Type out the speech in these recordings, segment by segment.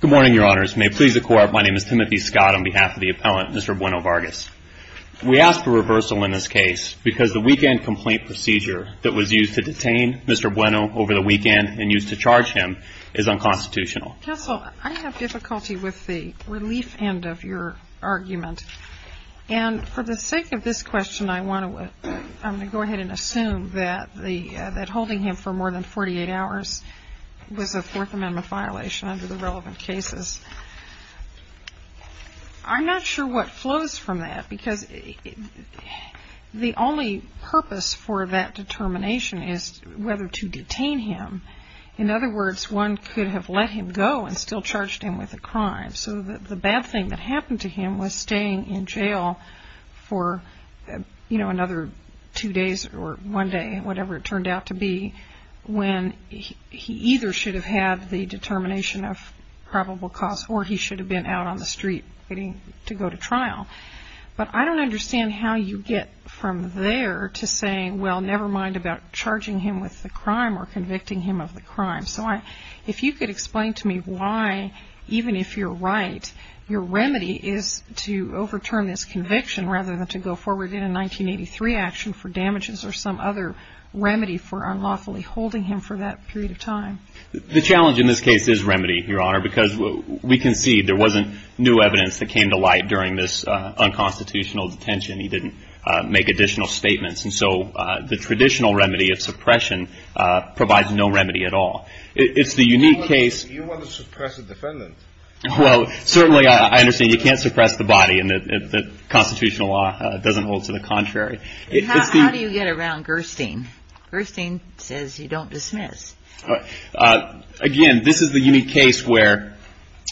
Good morning, Your Honors. May it please the Court, my name is Timothy Scott on behalf of the appellant, Mr. Bueno-Vargas. We ask for reversal in this case because the weekend complaint procedure that was used to detain Mr. Bueno over the weekend and used to charge him is unconstitutional. Counsel, I have difficulty with the relief end of your argument. And for the sake of this question, I want to, I'm going to go ahead and assume that holding him for more than 48 hours was a Fourth Amendment violation under the relevant cases. I'm not sure what flows from that because the only purpose for that determination is whether to detain him. In other words, one could have let him go and still charged him with a crime. So the bad thing that happened to him was staying in jail for, you know, another two days or one day, whatever it turned out to be, when he either should have had the determination of probable cause or he should have been out on the street waiting to go to trial. But I don't understand how you get from there to saying, well, never mind about charging him with the crime or convicting him of the crime. So if you could explain to me why, even if you're right, your remedy is to overturn this conviction rather than to go forward in a 1983 action for damages or some other remedy for unlawfully holding him for that period of time. The challenge in this case is remedy, Your Honor, because we can see there wasn't new evidence that came to light during this unconstitutional detention. He didn't make additional statements. And so the traditional remedy of suppression provides no remedy at all. It's the unique case. You want to suppress a defendant. Well, certainly I understand you can't suppress the body and that constitutional law doesn't hold to the contrary. How do you get around Gerstein? Gerstein says you don't dismiss. Again, this is the unique case where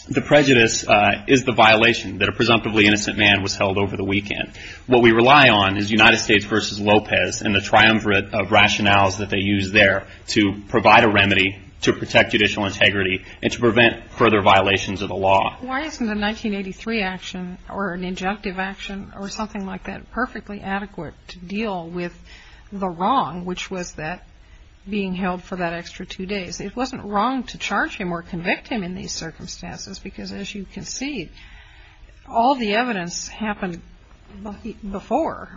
the prejudice is the violation that a presumptively innocent man was held over the weekend. What we rely on is United States v. Lopez and the triumvirate of rationales that they use there to provide a remedy to protect judicial integrity and to prevent further violations of the law. Why isn't a 1983 action or an injunctive action or something like that perfectly adequate to deal with the wrong, which was that being held for that extra two days? It wasn't wrong to charge him or convict him in these circumstances because, as you can see, all the evidence happened before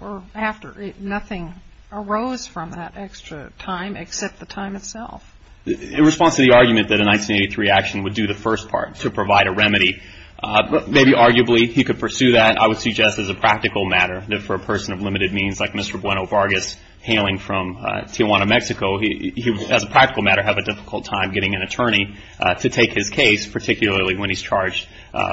or after. Nothing arose from that extra time except the time itself. In response to the argument that a 1983 action would do the first part to provide a remedy, maybe arguably he could pursue that. I would suggest as a practical matter that for a person of limited means like Mr. Bueno Vargas hailing from Tijuana, Mexico, he would, as a practical matter, have a difficult time getting an attorney to take his case, particularly when he's charged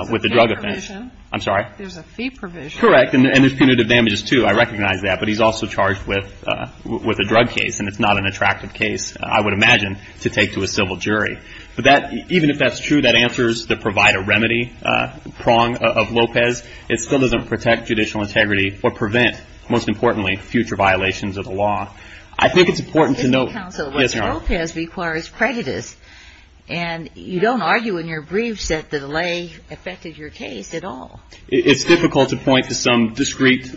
with a drug offense. There's a fee provision. I'm sorry? There's a fee provision. Correct. And there's punitive damages, too. I recognize that. But he's also charged with a drug case, and it's not an attractive case, I would imagine, to take to a civil jury. But even if that's true, that answers the provide a remedy prong of Lopez, it still doesn't protect judicial integrity or prevent, most importantly, future violations of the law. I think it's important to note Mr. Counsel, Mr. Lopez requires prejudice. And you don't argue in your briefs that the delay affected your case at all. It's difficult to point to some discrete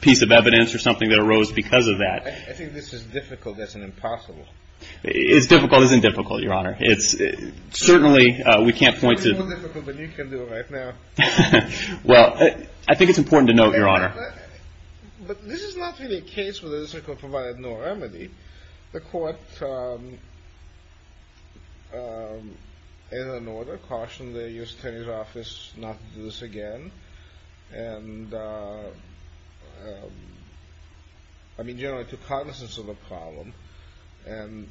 piece of evidence or something that arose because of that. I think this is difficult. That's an impossible. It's difficult. It isn't difficult, Your Honor. It's certainly, we can't point to It's way more difficult than you can do right now. Well, I think it's important to note, Your Honor. But this is not really a case where the district court provided no remedy. The court, in an argument, again, and, I mean, generally took cognizance of the problem and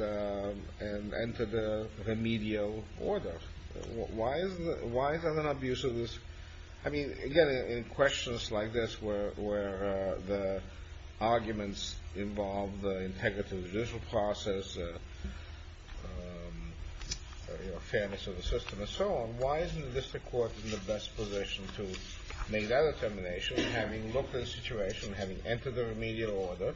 entered a remedial order. Why is there an abuse of this? I mean, again, in questions like this where the arguments involve the integrity of the judicial process, fairness of the system, and so on, why isn't the district court in the best position to make that determination, having looked at the situation, having entered the remedial order,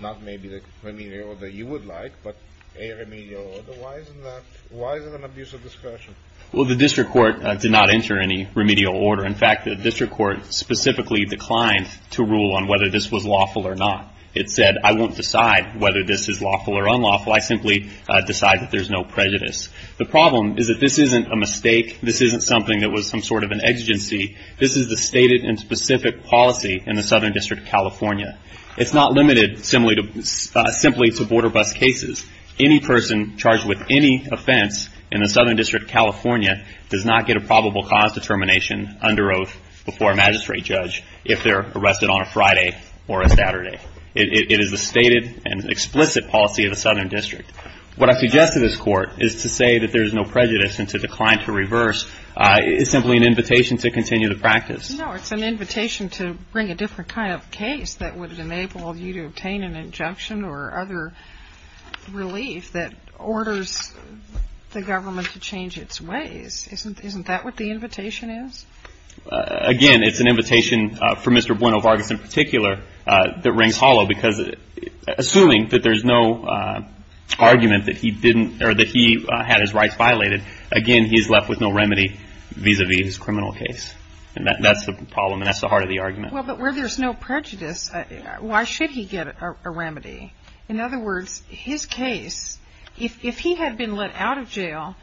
not maybe the remedial order you would like, but a remedial order? Why isn't that, why is it an abuse of discretion? Well, the district court did not enter any remedial order. In fact, the district court specifically declined to rule on whether this was lawful or not. It said, I won't decide whether this is lawful or unlawful. I simply decide that there's no prejudice. The problem is that this isn't a mistake. This isn't something that was some sort of an exigency. This is the stated and specific policy in the Southern District of California. It's not limited simply to border bus cases. Any person charged with any offense in the Southern District of California does not get a probable cause determination under oath before a magistrate judge if they're arrested on a Friday or a Saturday. It is the stated and explicit policy of the Southern District. What I suggest to this Court is to say that there's no prejudice and to decline to reverse. It's simply an invitation to continue the practice. No, it's an invitation to bring a different kind of case that would enable you to obtain an injunction or other relief that orders the government to change its ways. Isn't that what the invitation is? Again, it's an invitation for Mr. Buenovargas in particular that rings hollow because assuming that there's no argument that he had his rights violated, again, he's left with no remedy vis-a-vis his criminal case. That's the problem and that's the heart of the argument. But where there's no prejudice, why should he get a remedy? In other words, his case, if he had been let out of jail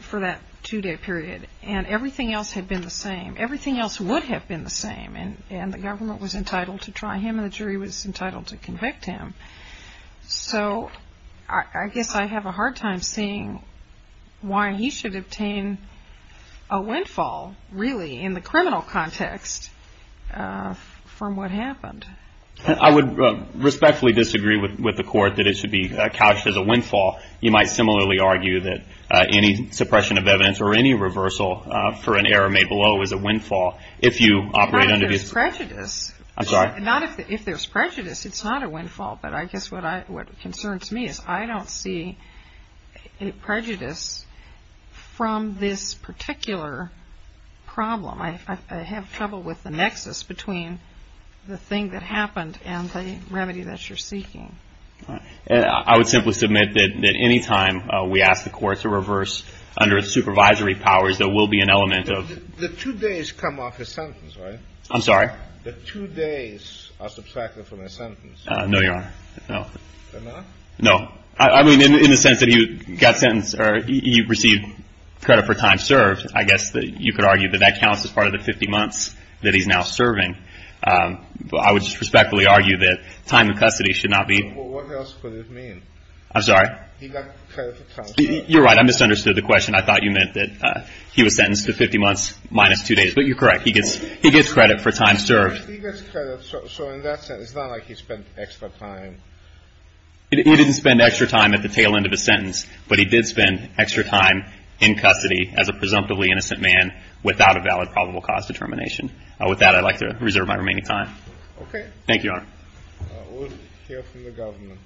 for that two-day period and everything else had been the same, everything else would have been the same, and the government was entitled to try him and the jury was entitled to convict him. So I guess I have a hard time seeing why he should obtain a windfall, really, in the criminal context from what happened. I would respectfully disagree with the Court that it should be couched as a windfall. You might similarly argue that any suppression of evidence or any reversal for an error made below is a windfall if you operate under the... Not if there's prejudice. I'm sorry? Not if there's prejudice. It's not a windfall. But I guess what concerns me is I don't see prejudice from this particular problem. I have trouble with the nexus between the thing that happened and the remedy that you're seeking. I would simply submit that any time we ask the Court to reverse under its supervisory powers, there will be an element of... The two days come off a sentence, right? I'm sorry? The two days are subtracted from a sentence. No, Your Honor. No. They're not? No. I mean, in the sense that you got sentenced or you received credit for time served, I guess that you could argue that that counts as part of the 50 months that he's now serving. I would respectfully argue that time in custody should not be... Well, what else could it mean? I'm sorry? He got credit for time served. You're right. I misunderstood the question. I thought you meant that he was sentenced to 50 months minus two days. But you're correct. He gets credit for time served. He gets credit. So in that sense, it's not like he spent extra time. He didn't spend extra time at the tail end of a sentence, but he did spend extra time in custody as a presumptively innocent man without a valid probable cause determination. With that, I'd like to reserve my remaining time. Okay. Thank you, Your Honor. We'll hear from the government.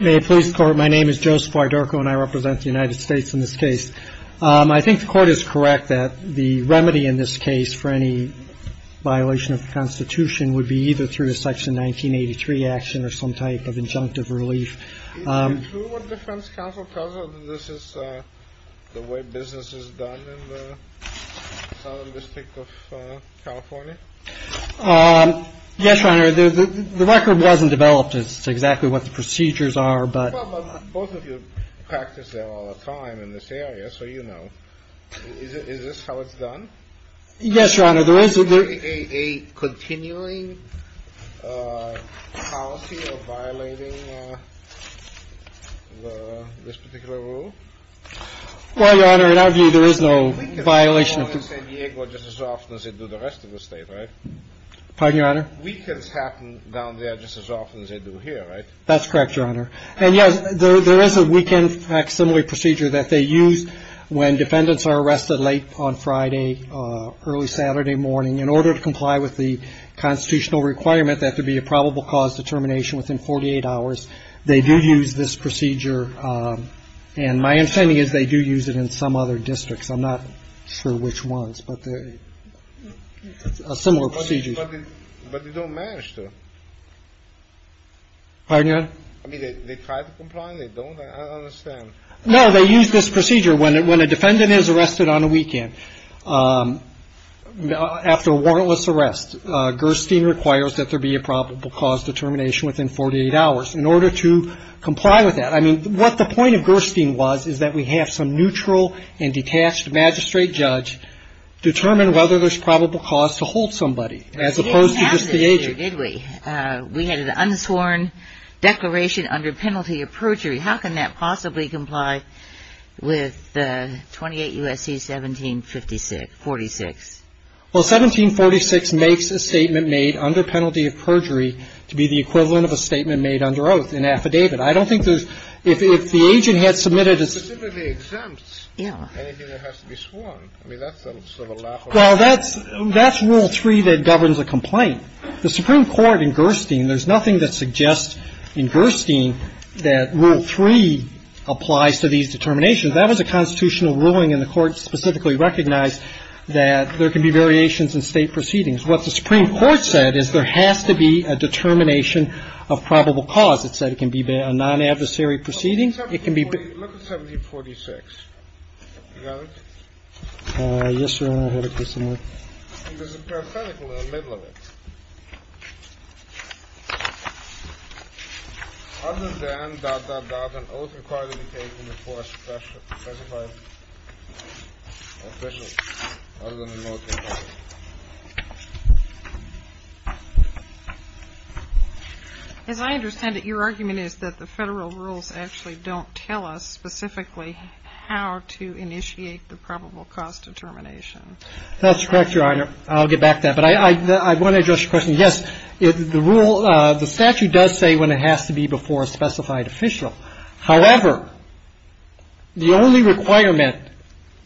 May it please the Court. My name is Joseph Wydorko, and I represent the United States in this case. I think the Court is correct that the remedy in this case for any violation of the Constitution would be either through a Section 1983 action or some type of injunctive relief. Is it true what the defense counsel tells us that this is the way business is done in the Southern District of California? Yes, Your Honor. The record wasn't developed as to exactly what the procedures are. But both of you practice there all the time in this area, so you know. Is this how it's done? Yes, Your Honor. Is there a continuing policy of violating this particular rule? Well, Your Honor, in our view, there is no violation. I think it's the same in San Diego just as often as they do the rest of the state, right? Pardon, Your Honor? Weekends happen down there just as often as they do here, right? That's correct, Your Honor. And, yes, there is a weekend facsimile procedure that they use when defendants are arrested late on Friday, early Saturday morning in order to comply with the constitutional requirement that there be a probable cause determination within 48 hours. They do use this procedure. And my understanding is they do use it in some other districts. I'm not sure which ones, but a similar procedure. But they don't manage to. Pardon, Your Honor? I don't understand. No, they use this procedure when a defendant is arrested on a weekend after a warrantless arrest. Gerstein requires that there be a probable cause determination within 48 hours in order to comply with that. I mean, what the point of Gerstein was is that we have some neutral and detached magistrate judge determine whether there's probable cause to hold somebody as opposed to just the agent. We didn't have this here, did we? So, in other words, if an agent is supposed to make an appendix of a statement that says he or she has a penalty of perjury, how can that possibly comply with 28 U.S.C. 1756 46? Well, 1746 makes a statement made under penalty of perjury to be the equivalent of a statement made under oath, an affidavit. I don't think there's – if the agent had submitted a – It specifically exempts anything that has to be sworn. Yeah. Well, that's – that's Rule 3 that governs a complaint. The Supreme Court in Gerstein – there's nothing that suggests in Gerstein that Rule 3 applies to these determinations. That was a constitutional ruling, and the Court specifically recognized that there can be variations in state proceedings. What the Supreme Court said is there has to be a determination of probable cause. It said it can be a non-adversary proceeding. It can be – Look at 1746. You got it? Yes, Your Honor. I'll have it put somewhere. There's a paraphragm in the middle of it. Other than dot, dot, dot, an oath required to be taken before a specified official, other than an oath required. As I understand it, your argument is that the Federal rules actually don't tell us specifically how to initiate the probable cause determination. That's correct, Your Honor. I'll get back to that. But I want to address your question. Yes, the rule – the statute does say when it has to be before a specified official. However, the only requirement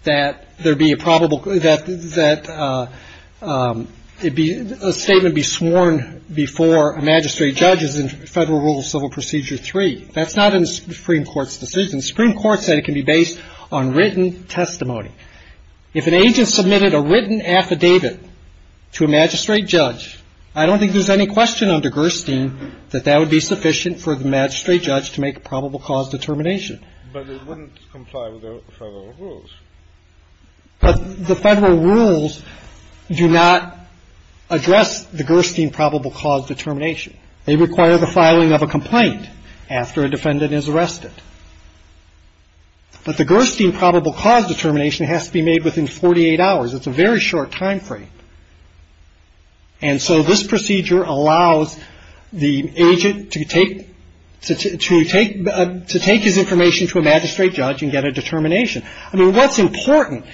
that there be a probable – that a statement be sworn before a magistrate judge is in Federal Rule of Civil Procedure 3. That's not in the Supreme Court's decision. The Supreme Court said it can be based on written testimony. If an agent submitted a written affidavit to a magistrate judge, I don't think there's any question under Gerstein that that would be sufficient for the magistrate judge to make a probable cause determination. But it wouldn't comply with the Federal rules. But the Federal rules do not address the Gerstein probable cause determination. They require the filing of a complaint after a defendant is arrested. But the Gerstein probable cause determination has to be made within 48 hours. It's a very short time frame. And so this procedure allows the agent to take – to take his information to a magistrate judge and get a determination. I mean, what's important,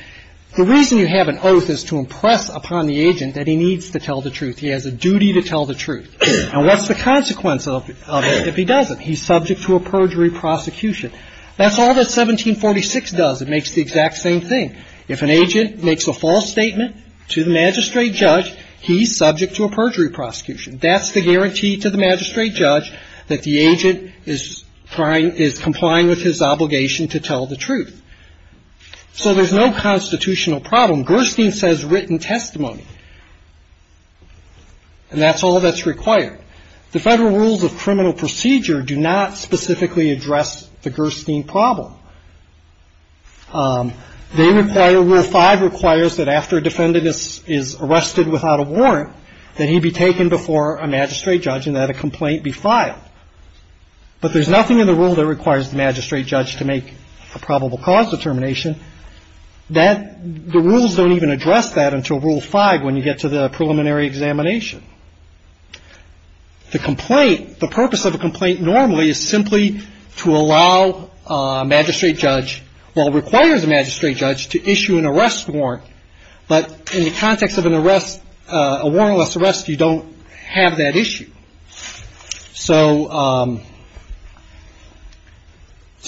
the reason you have an oath is to impress upon the agent that he needs to tell the truth. He has a duty to tell the truth. And what's the consequence of it if he doesn't? He's subject to a perjury prosecution. That's all that 1746 does. It makes the exact same thing. If an agent makes a false statement to the magistrate judge, he's subject to a perjury prosecution. That's the guarantee to the magistrate judge that the agent is complying with his obligation to tell the truth. So there's no constitutional problem. Gerstein says written testimony. And that's all that's required. The Federal rules of criminal procedure do not specifically address the Gerstein problem. They require – Rule 5 requires that after a defendant is arrested without a warrant, that he be taken before a magistrate judge and that a complaint be filed. But there's nothing in the rule that requires the magistrate judge to make a probable cause determination. That – the rules don't even address that until Rule 5 when you get to the preliminary examination. The complaint – the purpose of a complaint normally is simply to allow a magistrate judge – well, it requires a magistrate judge to issue an arrest warrant. But in the context of an arrest – a warrantless arrest, you don't have that issue. So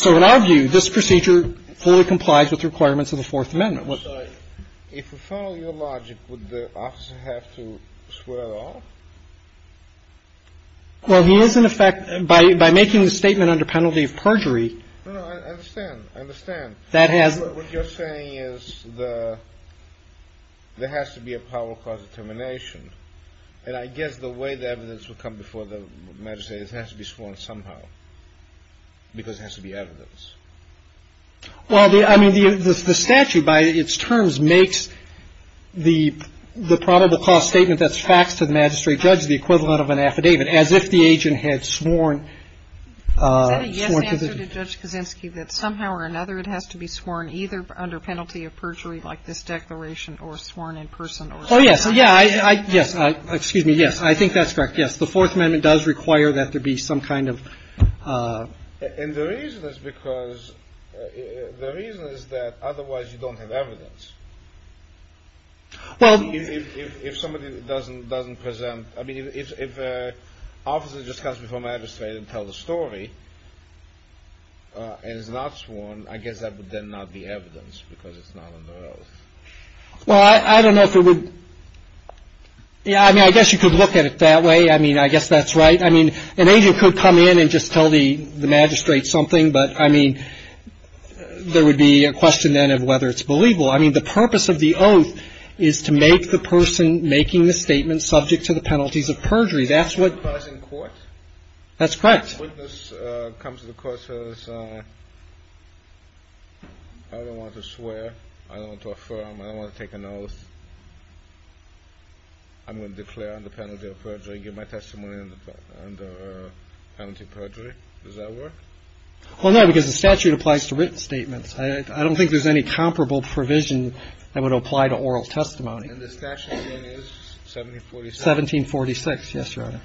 in our view, this procedure fully complies with the requirements of the Fourth Amendment. I'm sorry. If we follow your logic, would the officer have to swear at all? Well, he is in effect – by making the statement under penalty of perjury – No, no, I understand. I understand. That has – What you're saying is the – there has to be a probable cause determination. And I guess the way the evidence would come before the magistrate is it has to be sworn somehow. Because it has to be evidence. Well, the – I mean, the statute by its terms makes the probable cause statement that's faxed to the magistrate judge the equivalent of an affidavit, as if the agent had sworn. Is that a yes answer to Judge Kaczynski, that somehow or another it has to be sworn either under penalty of perjury like this declaration or sworn in person? Oh, yes. Yeah, I – yes. Excuse me. Yes. I think that's correct. Yes. So the Fourth Amendment does require that there be some kind of – And the reason is because – the reason is that otherwise you don't have evidence. Well – If somebody doesn't present – I mean, if an officer just comes before magistrate and tells a story and is not sworn, I guess that would then not be evidence because it's not under oath. Well, I don't know if it would – yeah, I mean, I guess you could look at it that way. I mean, I guess that's right. I mean, an agent could come in and just tell the magistrate something, but, I mean, there would be a question then of whether it's believable. I mean, the purpose of the oath is to make the person making the statement subject to the penalties of perjury. That's what – In court? That's correct. Witness comes to the court and says, I don't want to swear. I don't want to affirm. I don't want to take an oath. I'm going to declare under penalty of perjury and give my testimony under penalty of perjury. Does that work? Well, no, because the statute applies to written statements. I don't think there's any comparable provision that would apply to oral testimony. And the statute then is 1746? 1746, yes, Your Honor.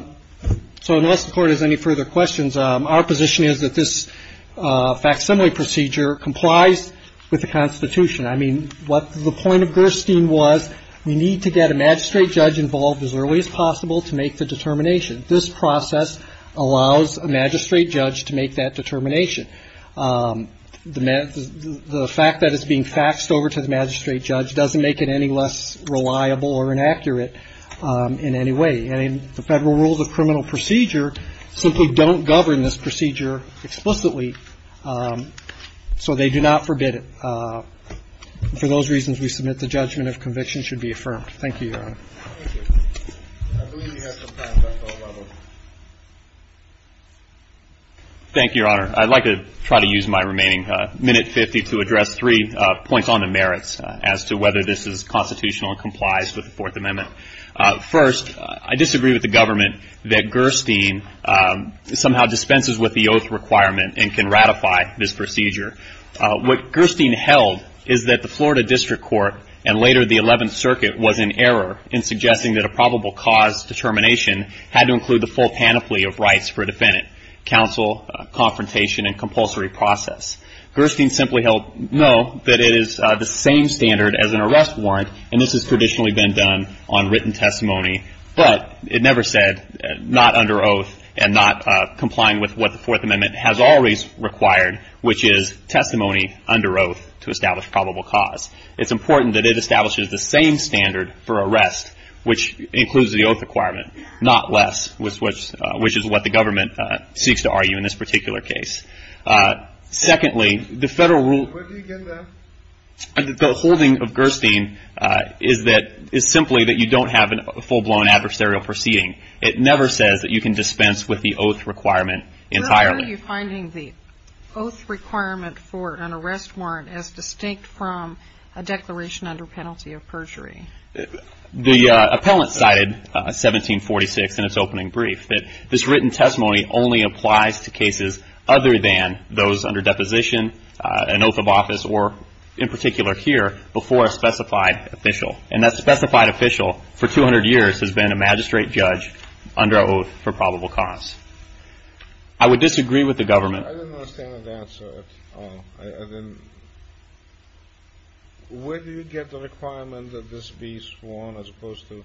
Okay. So unless the Court has any further questions, our position is that this facsimile procedure complies with the Constitution. I mean, what the point of Gerstein was, we need to get a magistrate judge involved as early as possible to make the determination. This process allows a magistrate judge to make that determination. The fact that it's being faxed over to the magistrate judge doesn't make it any less reliable or inaccurate in any way. And the Federal Rules of Criminal Procedure simply don't govern this procedure explicitly. So they do not forbid it. For those reasons, we submit the judgment of conviction should be affirmed. Thank you, Your Honor. Thank you. I believe we have some time left on that one. Thank you, Your Honor. I'd like to try to use my remaining minute 50 to address three points on the merits as to whether this is constitutional and complies with the Fourth Amendment. First, I disagree with the government that Gerstein somehow dispenses with the oath requirement and can ratify this procedure. What Gerstein held is that the Florida District Court and later the Eleventh Circuit was in error in suggesting that a probable cause determination had to include the full panoply of rights for a defendant, counsel, confrontation, and compulsory process. Gerstein simply held no, that it is the same standard as an arrest warrant, and this has traditionally been done on written testimony, but it never said not under oath and not complying with what the Fourth Amendment has always required, which is testimony under oath to establish probable cause. It's important that it establishes the same standard for arrest, which includes the oath requirement, not less, which is what the government seeks to argue in this particular case. Secondly, the federal rule of the holding of Gerstein is that, is simply that you don't have a full-blown adversarial proceeding. It never says that you can dispense with the oath requirement entirely. Where are you finding the oath requirement for an arrest warrant as distinct from a declaration under penalty of perjury? The appellant cited 1746 in its opening brief, that this written testimony only applies to cases other than those under deposition, an oath of office, or in particular here, before a specified official, and that specified official for 200 years has been a magistrate judge under oath for probable cause. I would disagree with the government. I didn't understand that answer. Where do you get the requirement that this be sworn as opposed to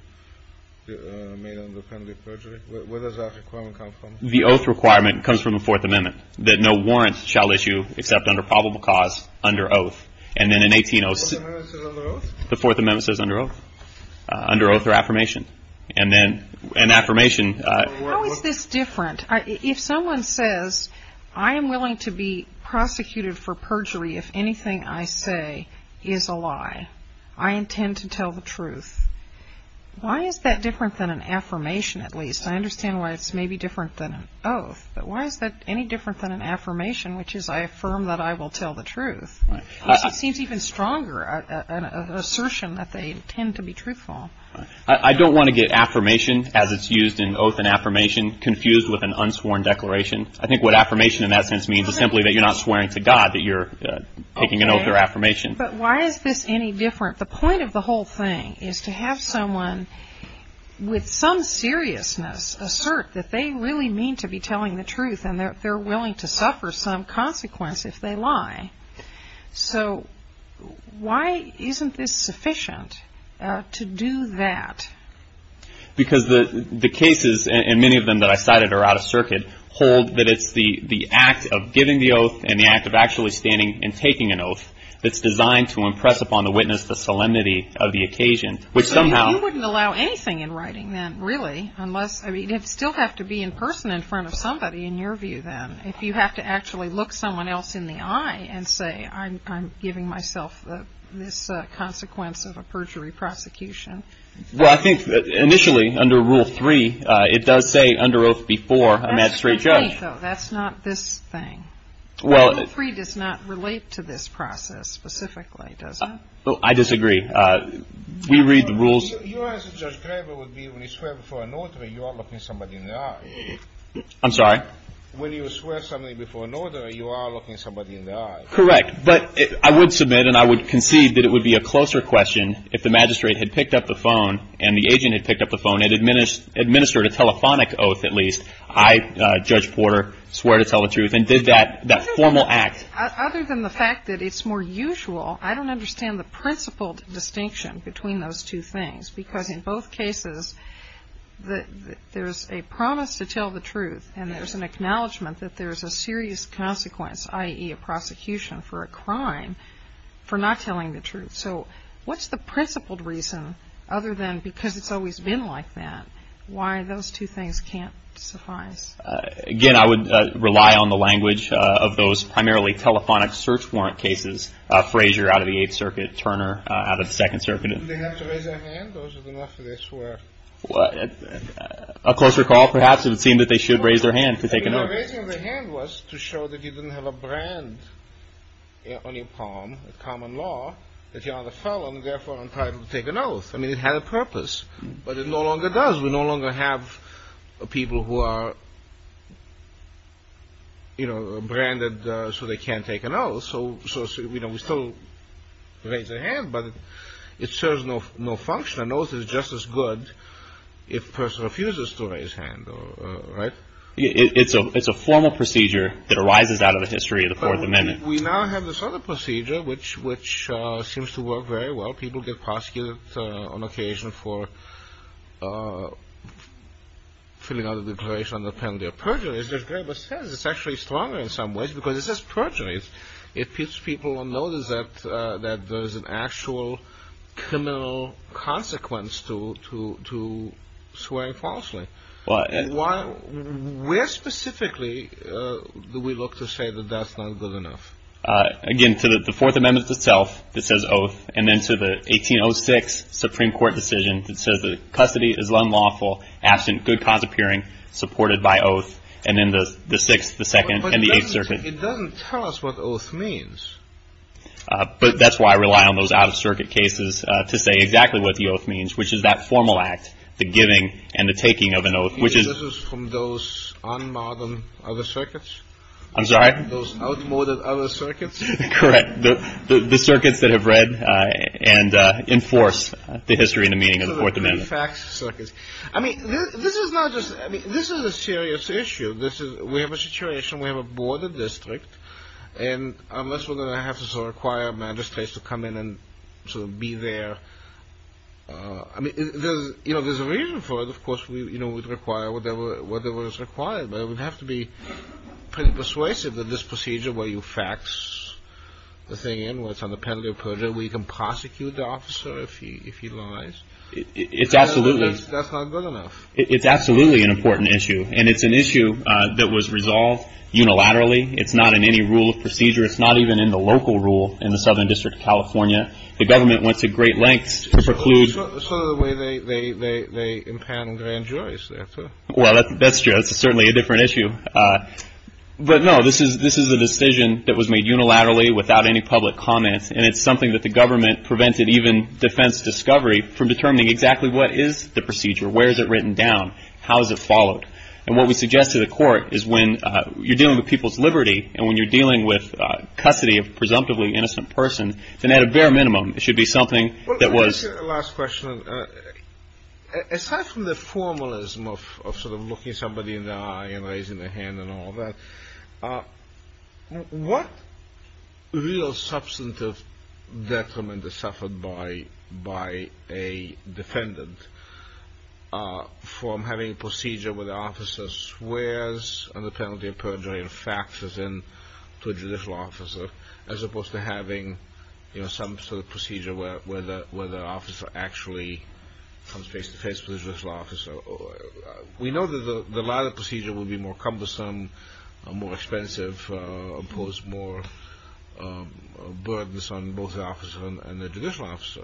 made under penalty of perjury? Where does that requirement come from? The oath requirement comes from the Fourth Amendment, that no warrant shall issue except under probable cause, under oath. And then in 1806 the Fourth Amendment says under oath, under oath or affirmation. And then an affirmation. How is this different? If someone says, I am willing to be prosecuted for perjury if anything I say is a lie. I intend to tell the truth. Why is that different than an affirmation at least? I understand why it's maybe different than an oath. But why is that any different than an affirmation, which is I affirm that I will tell the truth? It seems even stronger an assertion that they intend to be truthful. I don't want to get affirmation as it's used in oath and affirmation confused with an unsworn declaration. I think what affirmation in that sense means is simply that you're not swearing to God that you're taking an oath or affirmation. But why is this any different? The point of the whole thing is to have someone with some seriousness assert that they really mean to be telling the truth and that they're willing to suffer some consequence if they lie. So why isn't this sufficient to do that? Because the cases, and many of them that I cited are out of circuit, hold that it's the act of giving the oath and the act of actually standing and taking an oath that's designed to impress upon the witness the solemnity of the occasion. You wouldn't allow anything in writing then, really. You'd still have to be in person in front of somebody in your view then. If you have to actually look someone else in the eye and say, I'm giving myself this consequence of a perjury prosecution. Well, I think initially under Rule 3, it does say under oath before a magistrate judge. That's not this thing. Rule 3 does not relate to this process specifically, does it? I disagree. We read the rules. Your answer, Judge Graber, would be when you swear before an order, you are looking somebody in the eye. I'm sorry? When you swear something before an order, you are looking somebody in the eye. Correct. But I would submit and I would concede that it would be a closer question if the magistrate had picked up the phone and the agent had picked up the phone and administered a telephonic oath, at least. I, Judge Porter, swear to tell the truth and did that formal act. Other than the fact that it's more usual, I don't understand the principled distinction between those two things. Because in both cases, there's a promise to tell the truth and there's an acknowledgment that there's a serious consequence, i.e. a prosecution for a crime for not telling the truth. So what's the principled reason, other than because it's always been like that, why those two things can't suffice? Again, I would rely on the language of those primarily telephonic search warrant cases, Frazier out of the Eighth Circuit, Turner out of the Second Circuit. Didn't they have to raise their hand or was it enough of a swear? A closer call, perhaps, if it seemed that they should raise their hand to take an oath. Raising their hand was to show that you didn't have a brand on your palm, a common law, that you're not a felon, therefore entitled to take an oath. I mean, it had a purpose, but it no longer does. We no longer have people who are branded so they can't take an oath. So we still raise our hand, but it serves no function. An oath is just as good if a person refuses to raise their hand, right? It's a formal procedure that arises out of the history of the Fourth Amendment. But we now have this other procedure which seems to work very well. People get prosecuted on occasion for filling out a declaration on their penalty of perjury. As Judge Graber says, it's actually stronger in some ways because it's just perjury. It keeps people on notice that there's an actual criminal consequence to swearing falsely. Where specifically do we look to say that that's not good enough? Again, to the Fourth Amendment itself that says oath, and then to the 1806 Supreme Court decision that says that custody is unlawful, absent good cause appearing, supported by oath. And then the Sixth, the Second, and the Eighth Circuit. But it doesn't tell us what oath means. But that's why I rely on those out-of-circuit cases to say exactly what the oath means, which is that formal act, the giving and the taking of an oath. This is from those un-modern other circuits? I'm sorry? Those outmoded other circuits? Correct. The circuits that have read and enforced the history and the meaning of the Fourth Amendment. I mean, this is a serious issue. We have a situation. We have a border district. And unless we're going to have to sort of require magistrates to come in and sort of be there. I mean, there's a reason for it. Of course, we'd require whatever is required. But we'd have to be pretty persuasive that this procedure where you fax the thing in, where it's on the penalty of perjury, where you can prosecute the officer if he lies. That's not good enough. It's absolutely an important issue. And it's an issue that was resolved unilaterally. It's not in any rule of procedure. It's not even in the local rule in the Southern District of California. The government went to great lengths to preclude. It's not the way they impound grand juries. Well, that's true. That's certainly a different issue. But, no, this is a decision that was made unilaterally without any public comment. And it's something that the government prevented even defense discovery from determining exactly what is the procedure, where is it written down, how is it followed. And what we suggest to the court is when you're dealing with people's liberty and when you're dealing with custody of a presumptively innocent person, then at a bare minimum it should be something that was. Let me ask you the last question. Aside from the formalism of sort of looking somebody in the eye and raising their hand and all that, what real substantive detriment is suffered by a defendant from having a procedure where the officer swears under penalty of perjury and faxes in to a judicial officer as opposed to having some sort of procedure where the officer actually comes face-to-face with a judicial officer? We know that the latter procedure will be more cumbersome, more expensive, impose more burdens on both the officer and the judicial officer.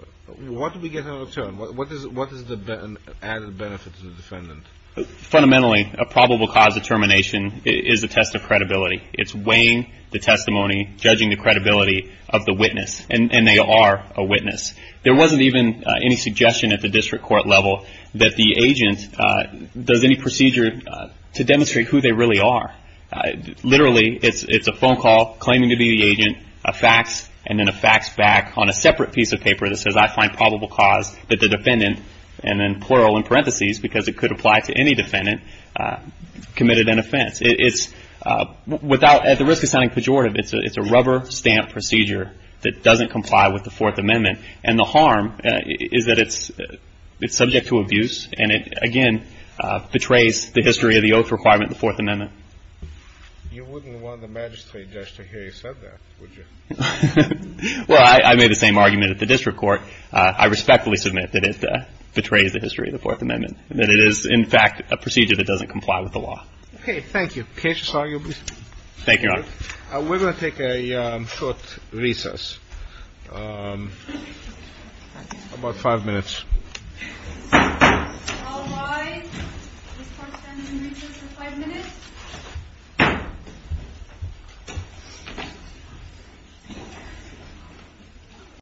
What do we get in return? What is the added benefit to the defendant? Fundamentally, a probable cause determination is a test of credibility. It's weighing the testimony, judging the credibility of the witness. And they are a witness. There wasn't even any suggestion at the district court level that the agent does any procedure to demonstrate who they really are. Literally, it's a phone call claiming to be the agent, a fax, and then a fax back on a separate piece of paper that says, I find probable cause that the defendant, and then plural in parentheses because it could apply to any defendant, committed an offense. At the risk of sounding pejorative, it's a rubber stamp procedure that doesn't comply with the Fourth Amendment. And the harm is that it's subject to abuse. And it, again, betrays the history of the oath requirement of the Fourth Amendment. You wouldn't want the magistrate just to hear you said that, would you? Well, I made the same argument at the district court. I respectfully submit that it betrays the history of the Fourth Amendment, that it is, in fact, a procedure that doesn't comply with the law. Okay. Thank you. Cases are your business. Thank you, Your Honor. We're going to take a short recess. About five minutes.